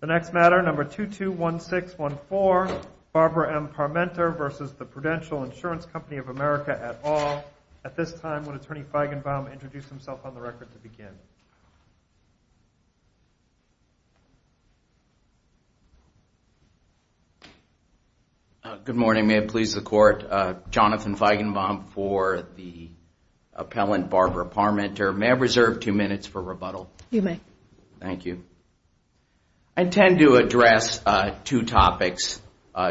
The next matter, number 221614, Barbara M. Parmenter versus the Prudential Insurance Company of America et al. At this time, would Attorney Feigenbaum introduce himself on the record to begin? Good morning. May it please the Court, Jonathan Feigenbaum for the I intend to address two topics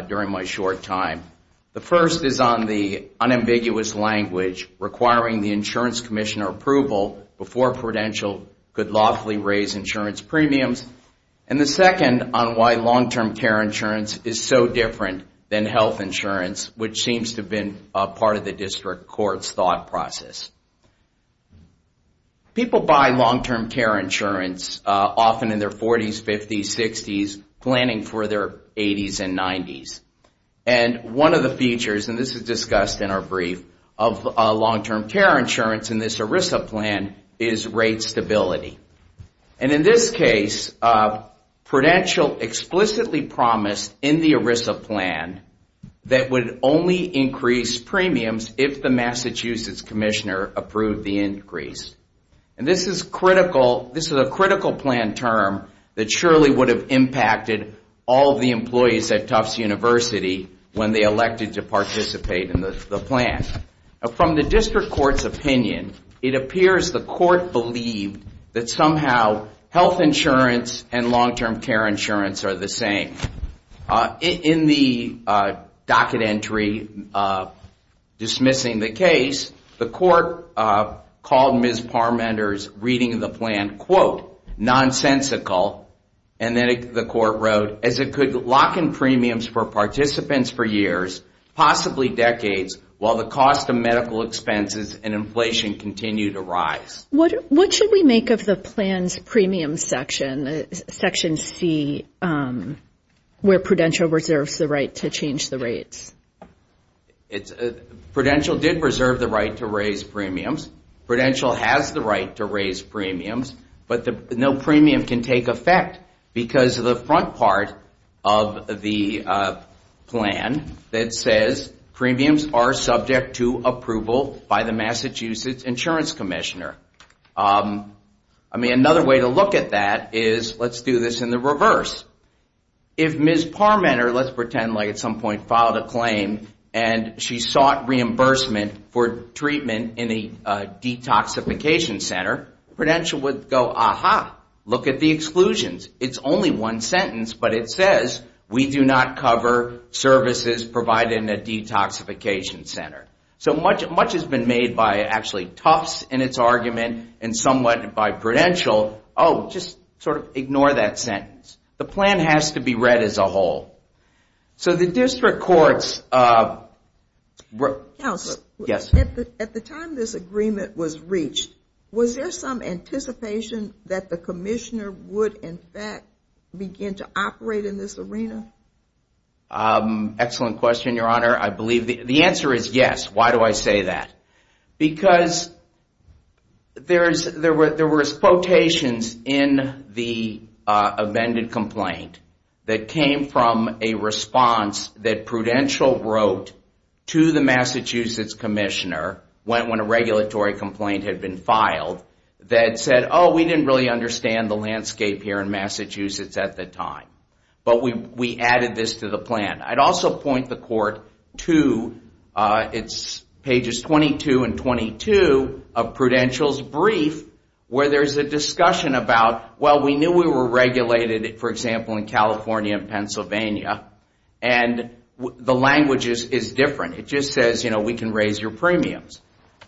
during my short time. The first is on the unambiguous language requiring the insurance commissioner approval before Prudential could lawfully raise insurance premiums. And the second on why long-term care insurance is so different than health insurance, which seems to have been part of the District Court's thought process. People buy long-term care insurance often in their 40s, 50s, 60s, planning for their 80s and 90s. And one of the features, and this is discussed in our brief, of long-term care insurance in this ERISA plan is rate stability. And in this case, Prudential explicitly promised in the ERISA plan that would only increase premiums if the Massachusetts commissioner approved the increase. And this is a critical plan term that surely would have impacted all the employees at Tufts University when they elected to participate in the plan. From the District Court's opinion, it appears the Court believed that somehow health insurance and long-term care insurance are the same. In the docket entry dismissing the case, the Court called Ms. Parmenter's reading of the plan, quote, nonsensical, and then the Court wrote, as it could lock in premiums for participants for years, possibly decades, while the cost of medical expenses and inflation continue to rise. What should we make of the plan's premium section, section C? Where Prudential reserves the right to change the rates. Prudential did reserve the right to raise premiums. Prudential has the right to raise premiums, but no premium can take effect because of the front part of the plan that says premiums are subject to approval by the Massachusetts insurance commissioner. I mean, another way to look at that is, let's do this in the reverse. If Ms. Parmenter, let's pretend like at some point filed a claim and she sought reimbursement for treatment in a detoxification center, Prudential would go, aha, look at the exclusions. It's only one sentence, but it says, we do not cover services provided in a detoxification center. Much has been made by Tufts in its argument and somewhat by Prudential, oh, just sort of ignore that sentence. The plan has to be read as a whole. So the district courts... At the time this agreement was reached, was there some anticipation that the commissioner would in fact begin to operate in this arena? Excellent question, Your Honor. I believe the answer is yes. Why do I say that? Because there was quotations in the amended complaint that came from a response that Prudential wrote to the Massachusetts commissioner when a regulatory complaint had been filed that said, oh, we didn't really understand the landscape here in Massachusetts at the time, but we added this to the plan. I'd also point the court to pages 22 and 22 of Prudential's brief where there's a discussion about, well, we knew we were regulated, for example, in California and Pennsylvania, and the language is different. It just says, you know, we can raise your premiums.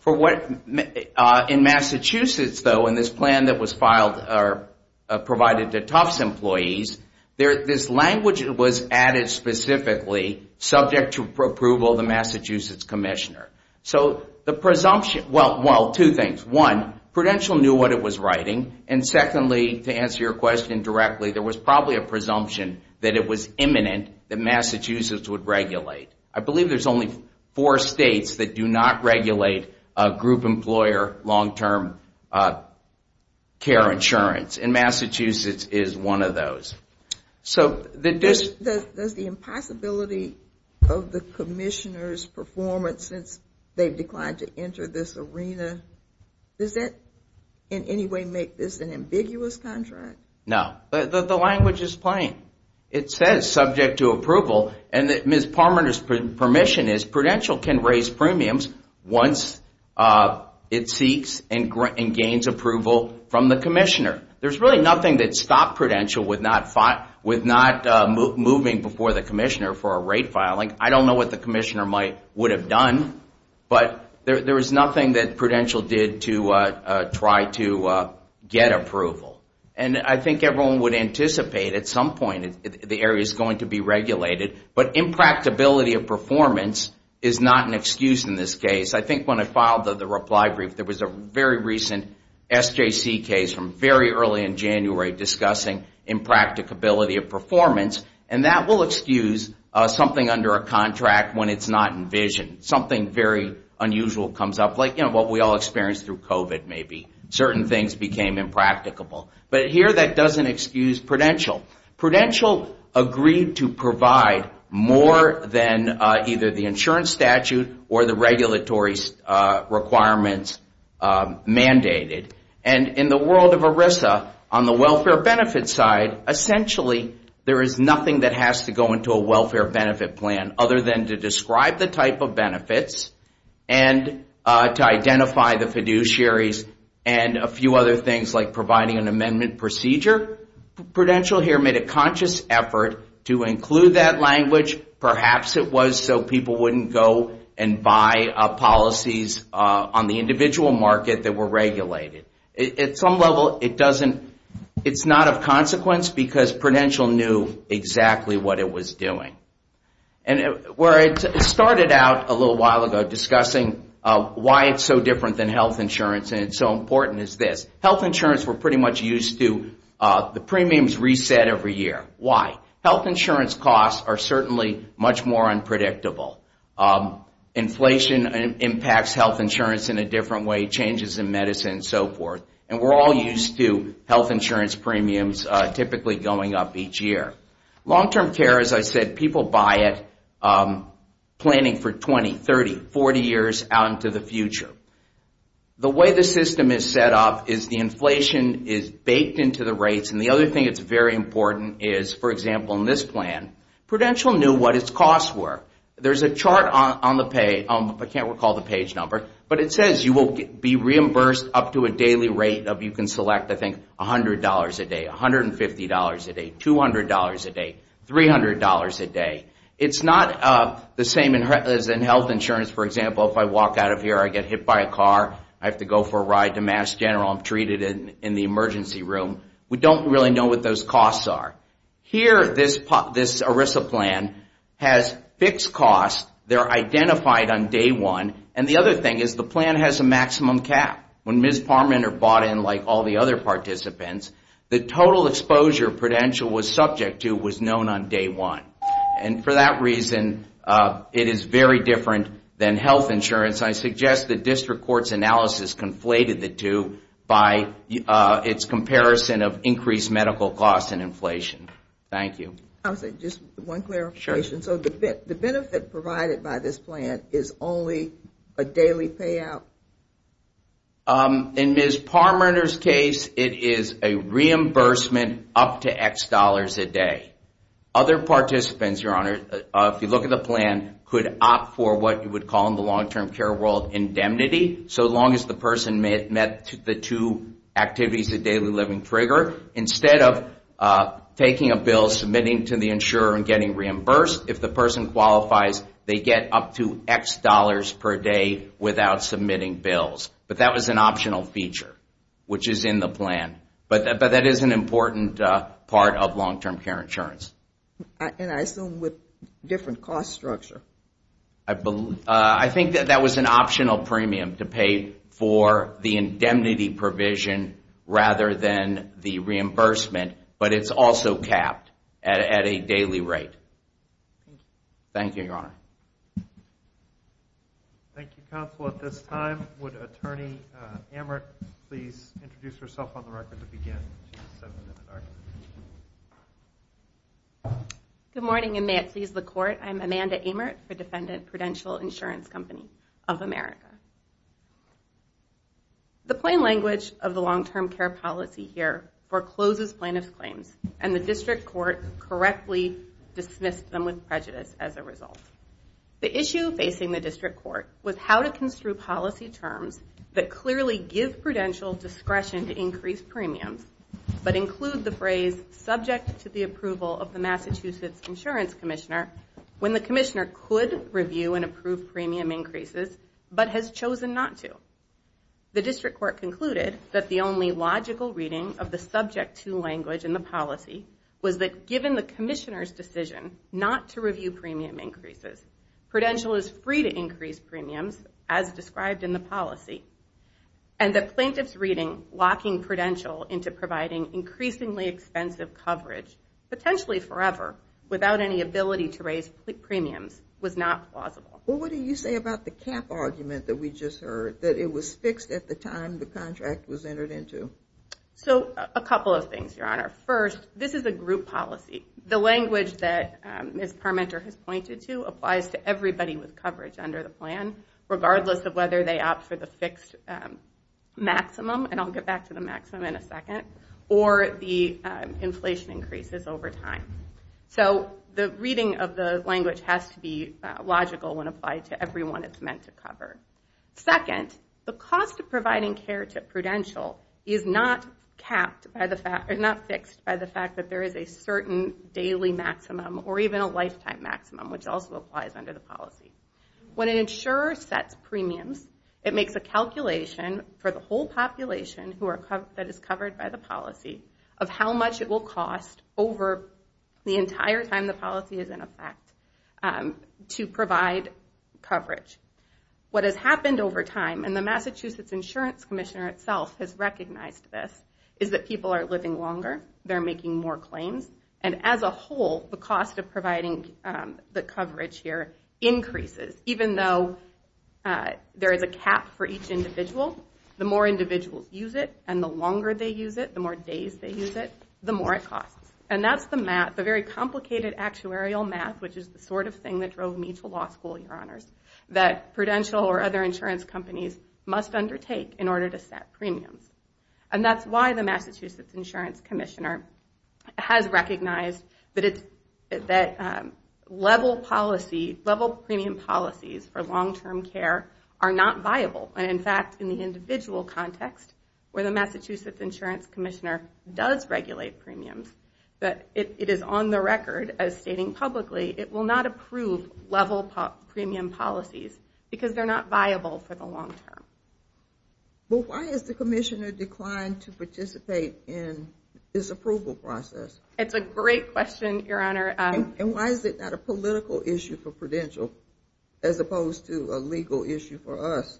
In Massachusetts, though, in this plan that was provided to Tufts employees, this language was added specifically subject to approval of the Massachusetts commissioner. So the presumption... Well, two things. One, Prudential knew what it was writing, and secondly, to answer your question directly, there was probably a presumption that it was imminent that Massachusetts would regulate. I believe there's only four states that do not regulate group employer long-term care insurance, and Massachusetts is one of those. Does the impossibility of the commissioner's performance since they've declined to enter this arena, does that in any way make this an ambiguous contract? No. The language is plain. It says, subject to approval, and Ms. Palmer's permission is Prudential can raise premiums once it sees and gains approval from the commissioner. There's really nothing that stopped Prudential with not moving before the commissioner for a rate filing. I don't know what the commissioner would have done, but there was nothing that Prudential did to try to get approval. And I think everyone would anticipate at some point the area's going to be regulated, but impracticability of performance is not an excuse in this case. I think when I filed the reply brief, there was a very recent SJC case from very early in January discussing impracticability of performance, and that will excuse something under a contract when it's not envisioned. Something very unusual comes up, like what we all experienced through COVID maybe. Certain things became impracticable, but here that doesn't excuse Prudential. Prudential agreed to provide more than either the insurance statute or the regulatory requirements mandated. And in the world of ERISA, on the welfare benefit side, essentially there is nothing that has to go into a welfare benefit plan other than to describe the type of benefits and to identify the fiduciaries and a few other things, like providing an amendment procedure. Prudential here made a conscious effort to include that language. Perhaps it was so people wouldn't go and buy policies on the individual market that were regulated. At some level, it's not of consequence because Prudential knew exactly what it was doing. And where it started out a little while ago discussing why it's so different than health insurance and it's so important is this. Health insurance, we're pretty much used to the premiums reset every year. Why? Health insurance costs are certainly much more unpredictable. Inflation impacts health insurance in a different way, changes in medicine and so forth. And we're all used to health insurance premiums typically going up each year. Long-term care, as I said, people buy it planning for 20, 30, 40 years out into the future. The way the system is set up is the inflation is baked into the rates. And the other thing that's very important is, for example, in this plan, Prudential knew what its costs were. There's a chart on the page, I can't recall the page number, but it says you will be reimbursed up to a daily rate of, you can select, I think, $100 a day, $150 a day, $200 a day, $300 a day. It's not the same as in health insurance. For example, if I walk out of here, I get hit by a car, I have to go for a ride to Mass General, I'm treated in the emergency room. We don't really know what those costs are. Here, this ERISA plan has fixed costs. They're identified on day one. And the other thing is the plan has a maximum cap. When Ms. Parmenter bought in, like all the other participants, the total exposure Prudential was subject to was known on day one. And for that reason, it is very different than health insurance. I suggest the district court's analysis conflated the two by its comparison of increased medical costs and inflation. Thank you. The benefit provided by this plan is only a daily payout? In Ms. Parmenter's case, it is a reimbursement up to X dollars a day. Other participants, Your Honor, if you look at the plan, could opt for what you would call in the long-term care world indemnity, so long as the person met the two activities of daily living trigger. Instead of taking a bill, submitting to the insurer and getting reimbursed, if the person qualifies, they get up to X dollars per day without submitting bills. But that was an optional feature, which is in the plan. But that is an important part of long-term care insurance. And I assume with different cost structure. I think that was an optional premium to pay for the indemnity provision rather than the reimbursement. But it's also capped at a daily rate. Thank you, Your Honor. Thank you, Counsel. At this time, would Attorney Amert please introduce herself on the record to begin? Good morning, and may it please the Court. I'm Amanda Amert for Defendant Prudential Insurance Company of America. The plain language of the long-term care policy here forecloses plaintiff's claims, and the district court correctly dismissed them with prejudice as a result. The issue facing the district court was how to construe policy terms that clearly give prudential discretion to increase premiums, but include the phrase, subject to the approval of the Massachusetts Insurance Commissioner, when the commissioner could review and approve premium increases, but has chosen not to. The district court concluded that the only logical reading of the subject to language in the policy was that given the commissioner's decision not to review premium increases, prudential is free to increase premiums, as described in the policy. And the plaintiff's reading locking prudential into providing increasingly expensive coverage, potentially forever, without any ability to raise premiums, was not plausible. What do you say about the cap argument that we just heard, that it was fixed at the time the contract was entered into? So, a couple of things, Your Honor. First, this is a group policy. The language that Ms. Parmenter has pointed to applies to everybody with coverage under the plan, regardless of whether they opt for the fixed maximum, and I'll get back to the maximum in a second, or the inflation increases over time. So, the reading of the language has to be logical when applied to everyone it's meant to cover. Second, the cost of providing care to prudential is not fixed by the fact that there is a certain daily maximum, or even a lifetime maximum, which also applies under the policy. When an insurer sets premiums, it makes a calculation for the whole population that is covered by the policy of how much it will cost over the entire time the policy is in effect to provide coverage. What has happened over time, and the Massachusetts Insurance Commissioner itself has recognized this, is that people are living longer, they're making more claims, and as a whole, the cost of providing the coverage here increases. Even though there is a cap for each individual, the more individuals use it, and the longer they use it, the more days they use it, the more it costs. And that's the very complicated actuarial math, which is the sort of thing that drove me to law school, that prudential or other insurance companies must undertake in order to set premiums. And that's why the Massachusetts Insurance Commissioner has recognized that level policy, level premium policies for long-term care are not viable. And in fact, in the individual context, where the Massachusetts Insurance Commissioner does regulate premiums, it is on the record as stating publicly, it will not approve level premium policies because they're not viable for the long term. But why has the commissioner declined to participate in this approval process? It's a great question, Your Honor. And why is it not a political issue for prudential, as opposed to a legal issue for us?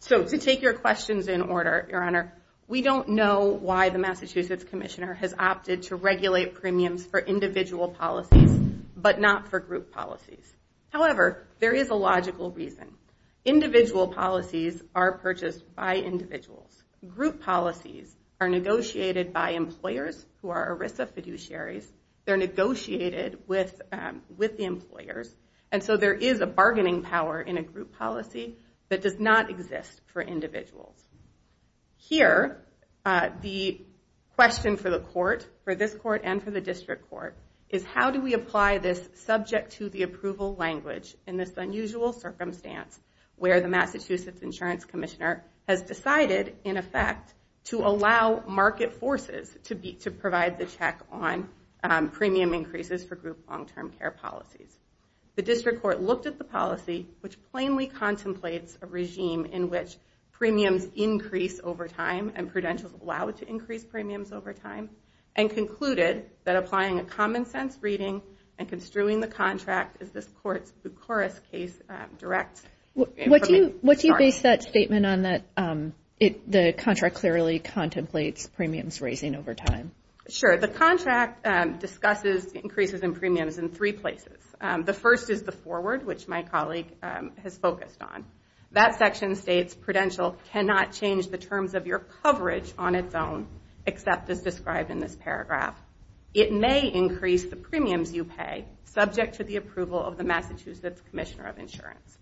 So to take your questions in order, Your Honor, we don't know why the Massachusetts Commissioner has opted to regulate premiums for individual policies, but not for group policies. However, there is a logical reason. Individual policies are purchased by individuals. Group policies are negotiated by employers who are ERISA fiduciaries. They're negotiated with the employers, and so there is a bargaining power in a group policy that does not exist for individuals. Here, the question for the court, for this court and for the district court, is how do we apply this subject to the approval language in this unusual circumstance where the Massachusetts Insurance Commissioner has decided, in effect, to allow market forces to provide the check on premium increases for group long-term care policies. The district court looked at the policy, which plainly contemplates a regime in which premiums increase over time, and prudentials allow it to increase premiums over time, and concluded that applying a common-sense reading and construing the contract is this court's Bucharest case direct... What do you base that statement on, that the contract clearly contemplates premiums raising over time? Sure. The contract discusses increases in premiums in three places. The first is the forward, which my colleague has focused on. That section states prudential cannot change the terms of your coverage on its own, except as described in this paragraph. It may increase the premiums you pay, subject to the approval of the Massachusetts Commissioner of Insurance.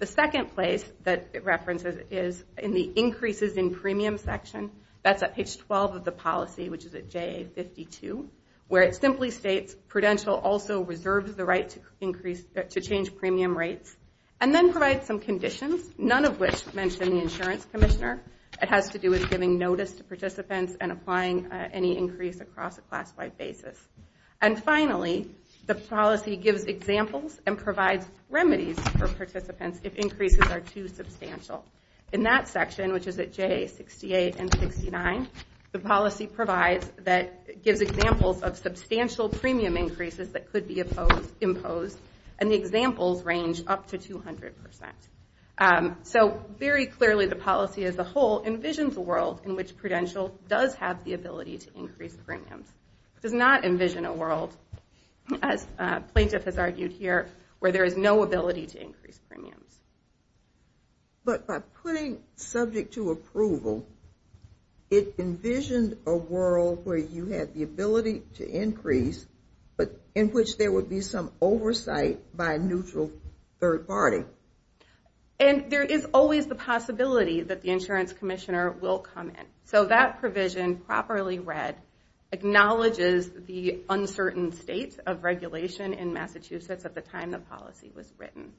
The second place that it references is in the increases in premiums section. That's at page 12 of the policy, which is at JA-52, where it simply states prudential also reserves the right to change premium rates, and then provides some conditions, none of which mention the insurance commissioner. It has to do with giving notice to participants and applying any increase across a class-wide basis. And finally, the policy gives examples and provides remedies for participants if increases are too substantial. In that section, which is at JA-68 and 69, the policy provides, gives examples of substantial premium increases that could be imposed, and the examples range up to 200%. So very clearly, the policy as a whole envisions a world in which prudential does have the ability to increase premiums. It does not envision a world, as a plaintiff has argued here, where there is no ability to increase premiums. But by putting subject to approval, it envisioned a world where you had the ability to increase, but in which there would be some oversight by a neutral third party. And there is always the possibility that the insurance commissioner will come in. So that provision, properly read, acknowledges the uncertain states of regulation in Massachusetts at the time the policy was written.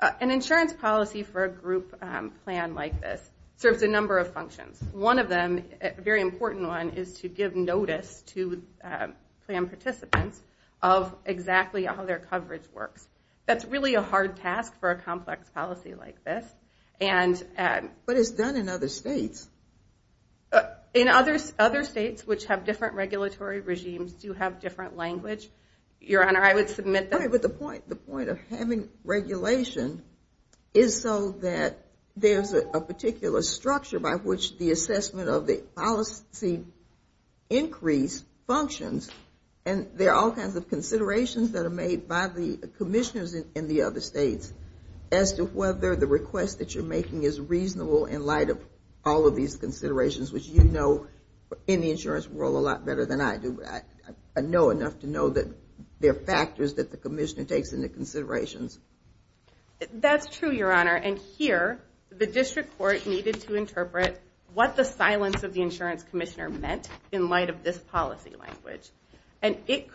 An insurance policy for a group plan like this serves a number of functions. One of them, a very important one, is to give notice to plan participants of exactly how their coverage works. That's really a hard task for a complex policy like this. But it's done in other states. In other states, which have different regulatory regimes, do have different language. Your Honor, I would submit that... But the point of having regulation is so that there's a particular structure by which the assessment of the policy increase functions, and there are all kinds of considerations that are made by the commissioners in the other states as to whether the request that you're making is reasonable in light of all of these considerations, which you know in the insurance world a lot better than I do. I know enough to know that there are factors that the commissioner takes into consideration. That's true, Your Honor. And here, the district court needed to interpret what the silence of the insurance commissioner meant in light of this policy language. And it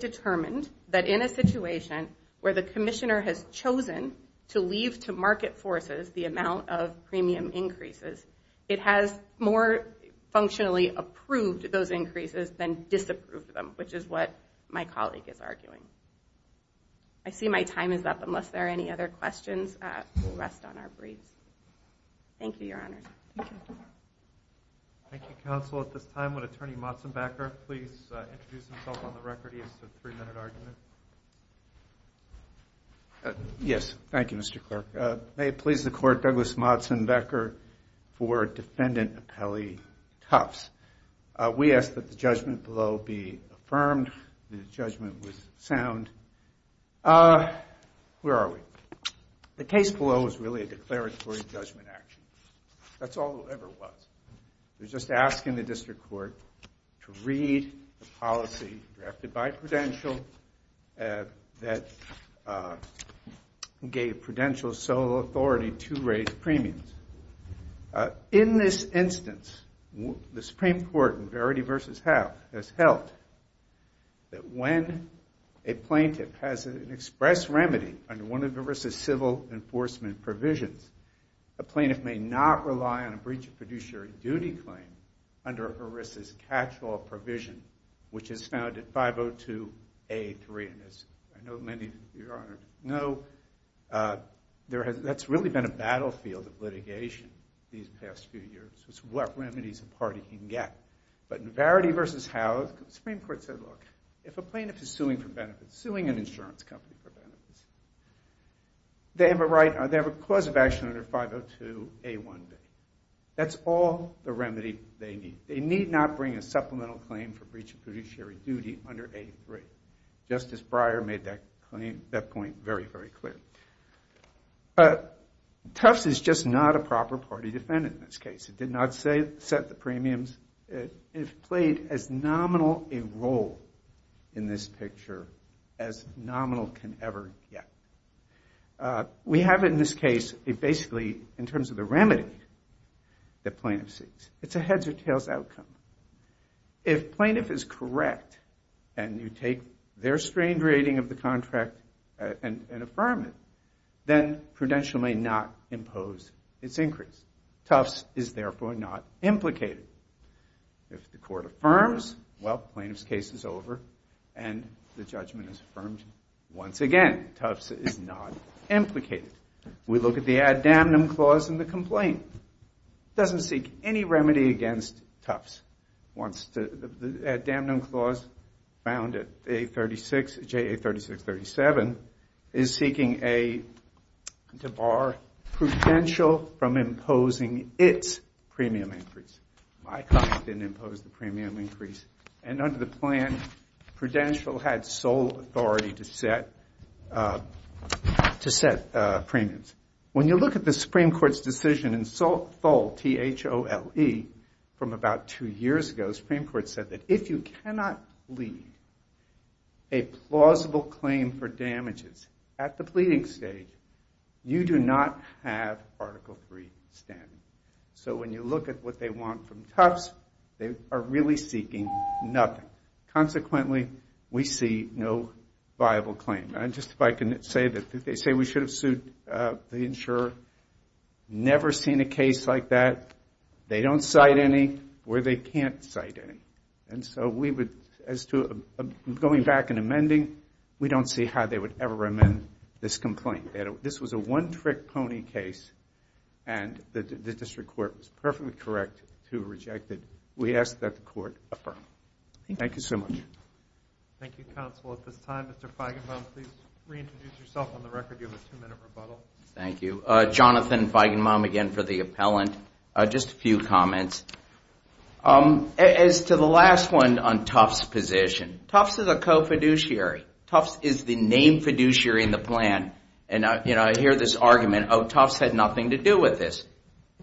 determined that in a situation where the commissioner has chosen to leave to market forces the amount of premium increases, it has more functionally approved those increases than disapproved them, which is what my colleague is arguing. I see my time is up. Unless there are any other questions, we'll rest on our briefs. Thank you, Your Honor. Yes, thank you, Mr. Clerk. May it please the Court, Douglas Motsenbecher for Defendant Appellee Tufts. We ask that the judgment below be affirmed. The judgment was sound. Where are we? The case below is really a declaratory judgment action. That's all it ever was. We're just asking the district court to read the policy drafted by Prudential that gave Prudential sole authority to raise premiums. In this instance, the Supreme Court in Verity v. Howe has held that when a plaintiff has an express remedy under one of ERISA's civil enforcement provisions, a plaintiff may not rely on a breach of fiduciary duty claim under ERISA's catch-all provision, which is found in 502A3. And as I know many of you know, that's really been a battlefield of litigation these past few years. It's what remedies a party can get. But in Verity v. Howe, the Supreme Court said, look, if a plaintiff is suing an insurance company for benefits, they have a clause of action under 502A1B. That's all the remedy they need. They need not bring a supplemental claim for breach of fiduciary duty under A3. Justice Breyer made that point very, very clear. But Tufts is just not a proper party defendant in this case. It did not set the premiums. It has played as nominal a role in this picture as nominal can ever get. We have in this case, basically, in terms of the remedy that plaintiffs seek, it's a heads or tails outcome. If plaintiff is correct and you take their strange rating of the contract and affirm it, then prudential may not impose its increase. Tufts is therefore not implicated. If the court affirms, well, plaintiff's case is over and the judgment is affirmed once again. Tufts is not implicated. We look at the ad damnum clause in the complaint. It doesn't seek any remedy against Tufts. The ad damnum clause found at JA3637 is seeking to bar prudential from imposing its premium increase. My client didn't impose the premium increase. And under the plan, prudential had sole authority to set premiums. When you look at the Supreme Court's decision in Tholl, T-H-O-L-E, from about two years ago, the Supreme Court said that if you cannot leave a plausible claim for damages at the pleading stage, you do not have Article III standing. So when you look at what they want from Tufts, they are really seeking nothing. Consequently, we see no viable claim. And just if I can say that they say we should have sued the insurer. Never seen a case like that. They don't cite any where they can't cite any. And so we would, as to going back and amending, we don't see how they would ever amend this complaint. This was a one-trick pony case. And the district court was perfectly correct to reject it. We ask that the court affirm. Thank you so much. Thank you, counsel. At this time, Mr. Feigenbaum, please reintroduce yourself on the record. You have a two-minute rebuttal. Thank you. Jonathan Feigenbaum again for the appellant. Just a few comments. As to the last one on Tufts' position, Tufts is a argument of Tufts had nothing to do with this.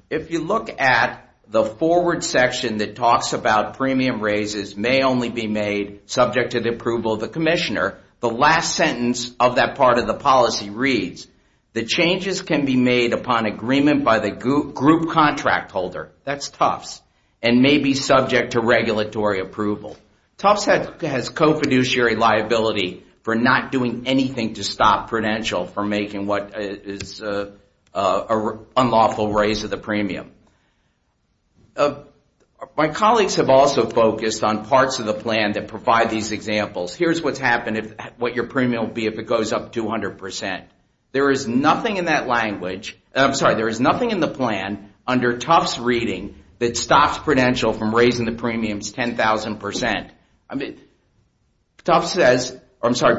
If you look at the forward section that talks about premium raises may only be made subject to the approval of the commissioner, the last sentence of that part of the policy reads, the changes can be made upon agreement by the group contract holder, that's Tufts, and may be subject to regulatory approval. Tufts has co-fiduciary liability for not doing anything to stop Prudential from making what is an unlawful raise of the premium. My colleagues have also focused on parts of the plan that provide these examples. Here's what's happened. What your premium will be if it goes up 200%. There is nothing in that language, I'm sorry, there is nothing in the plan under Tufts' reading that stops Prudential from raising the premiums 10,000%.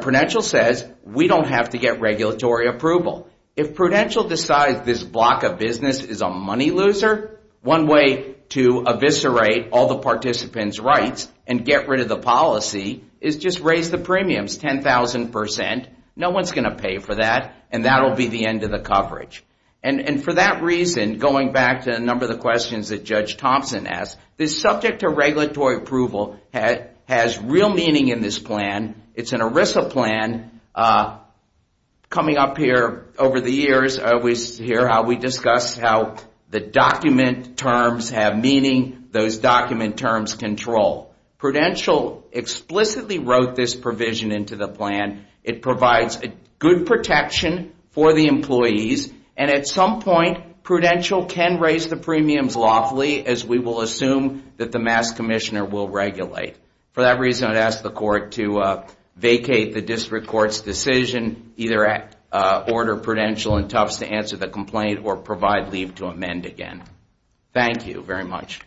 Prudential says we don't have to get regulatory approval. If Prudential decides this block of business is a money loser, one way to eviscerate all the participants' rights and get rid of the policy is just raise the premiums 10,000%. No one is going to pay for that and that will be the end of the coverage. And for that reason, going back to a number of the questions that Judge Thompson asked, this subject to regulatory approval has real meaning in this plan. It's an ERISA plan. Coming up here over the years, we discussed how the document terms have meaning, those document terms control. Prudential explicitly wrote this provision into the plan. It provides good protection for the employees and at some point Prudential can raise the premiums lawfully as we will assume that the Mass. Commissioner will regulate. For that reason, I'd ask the court to vacate the district court's decision, either order Prudential and Tufts to answer the complaint or provide leave to amend again. Thank you very much.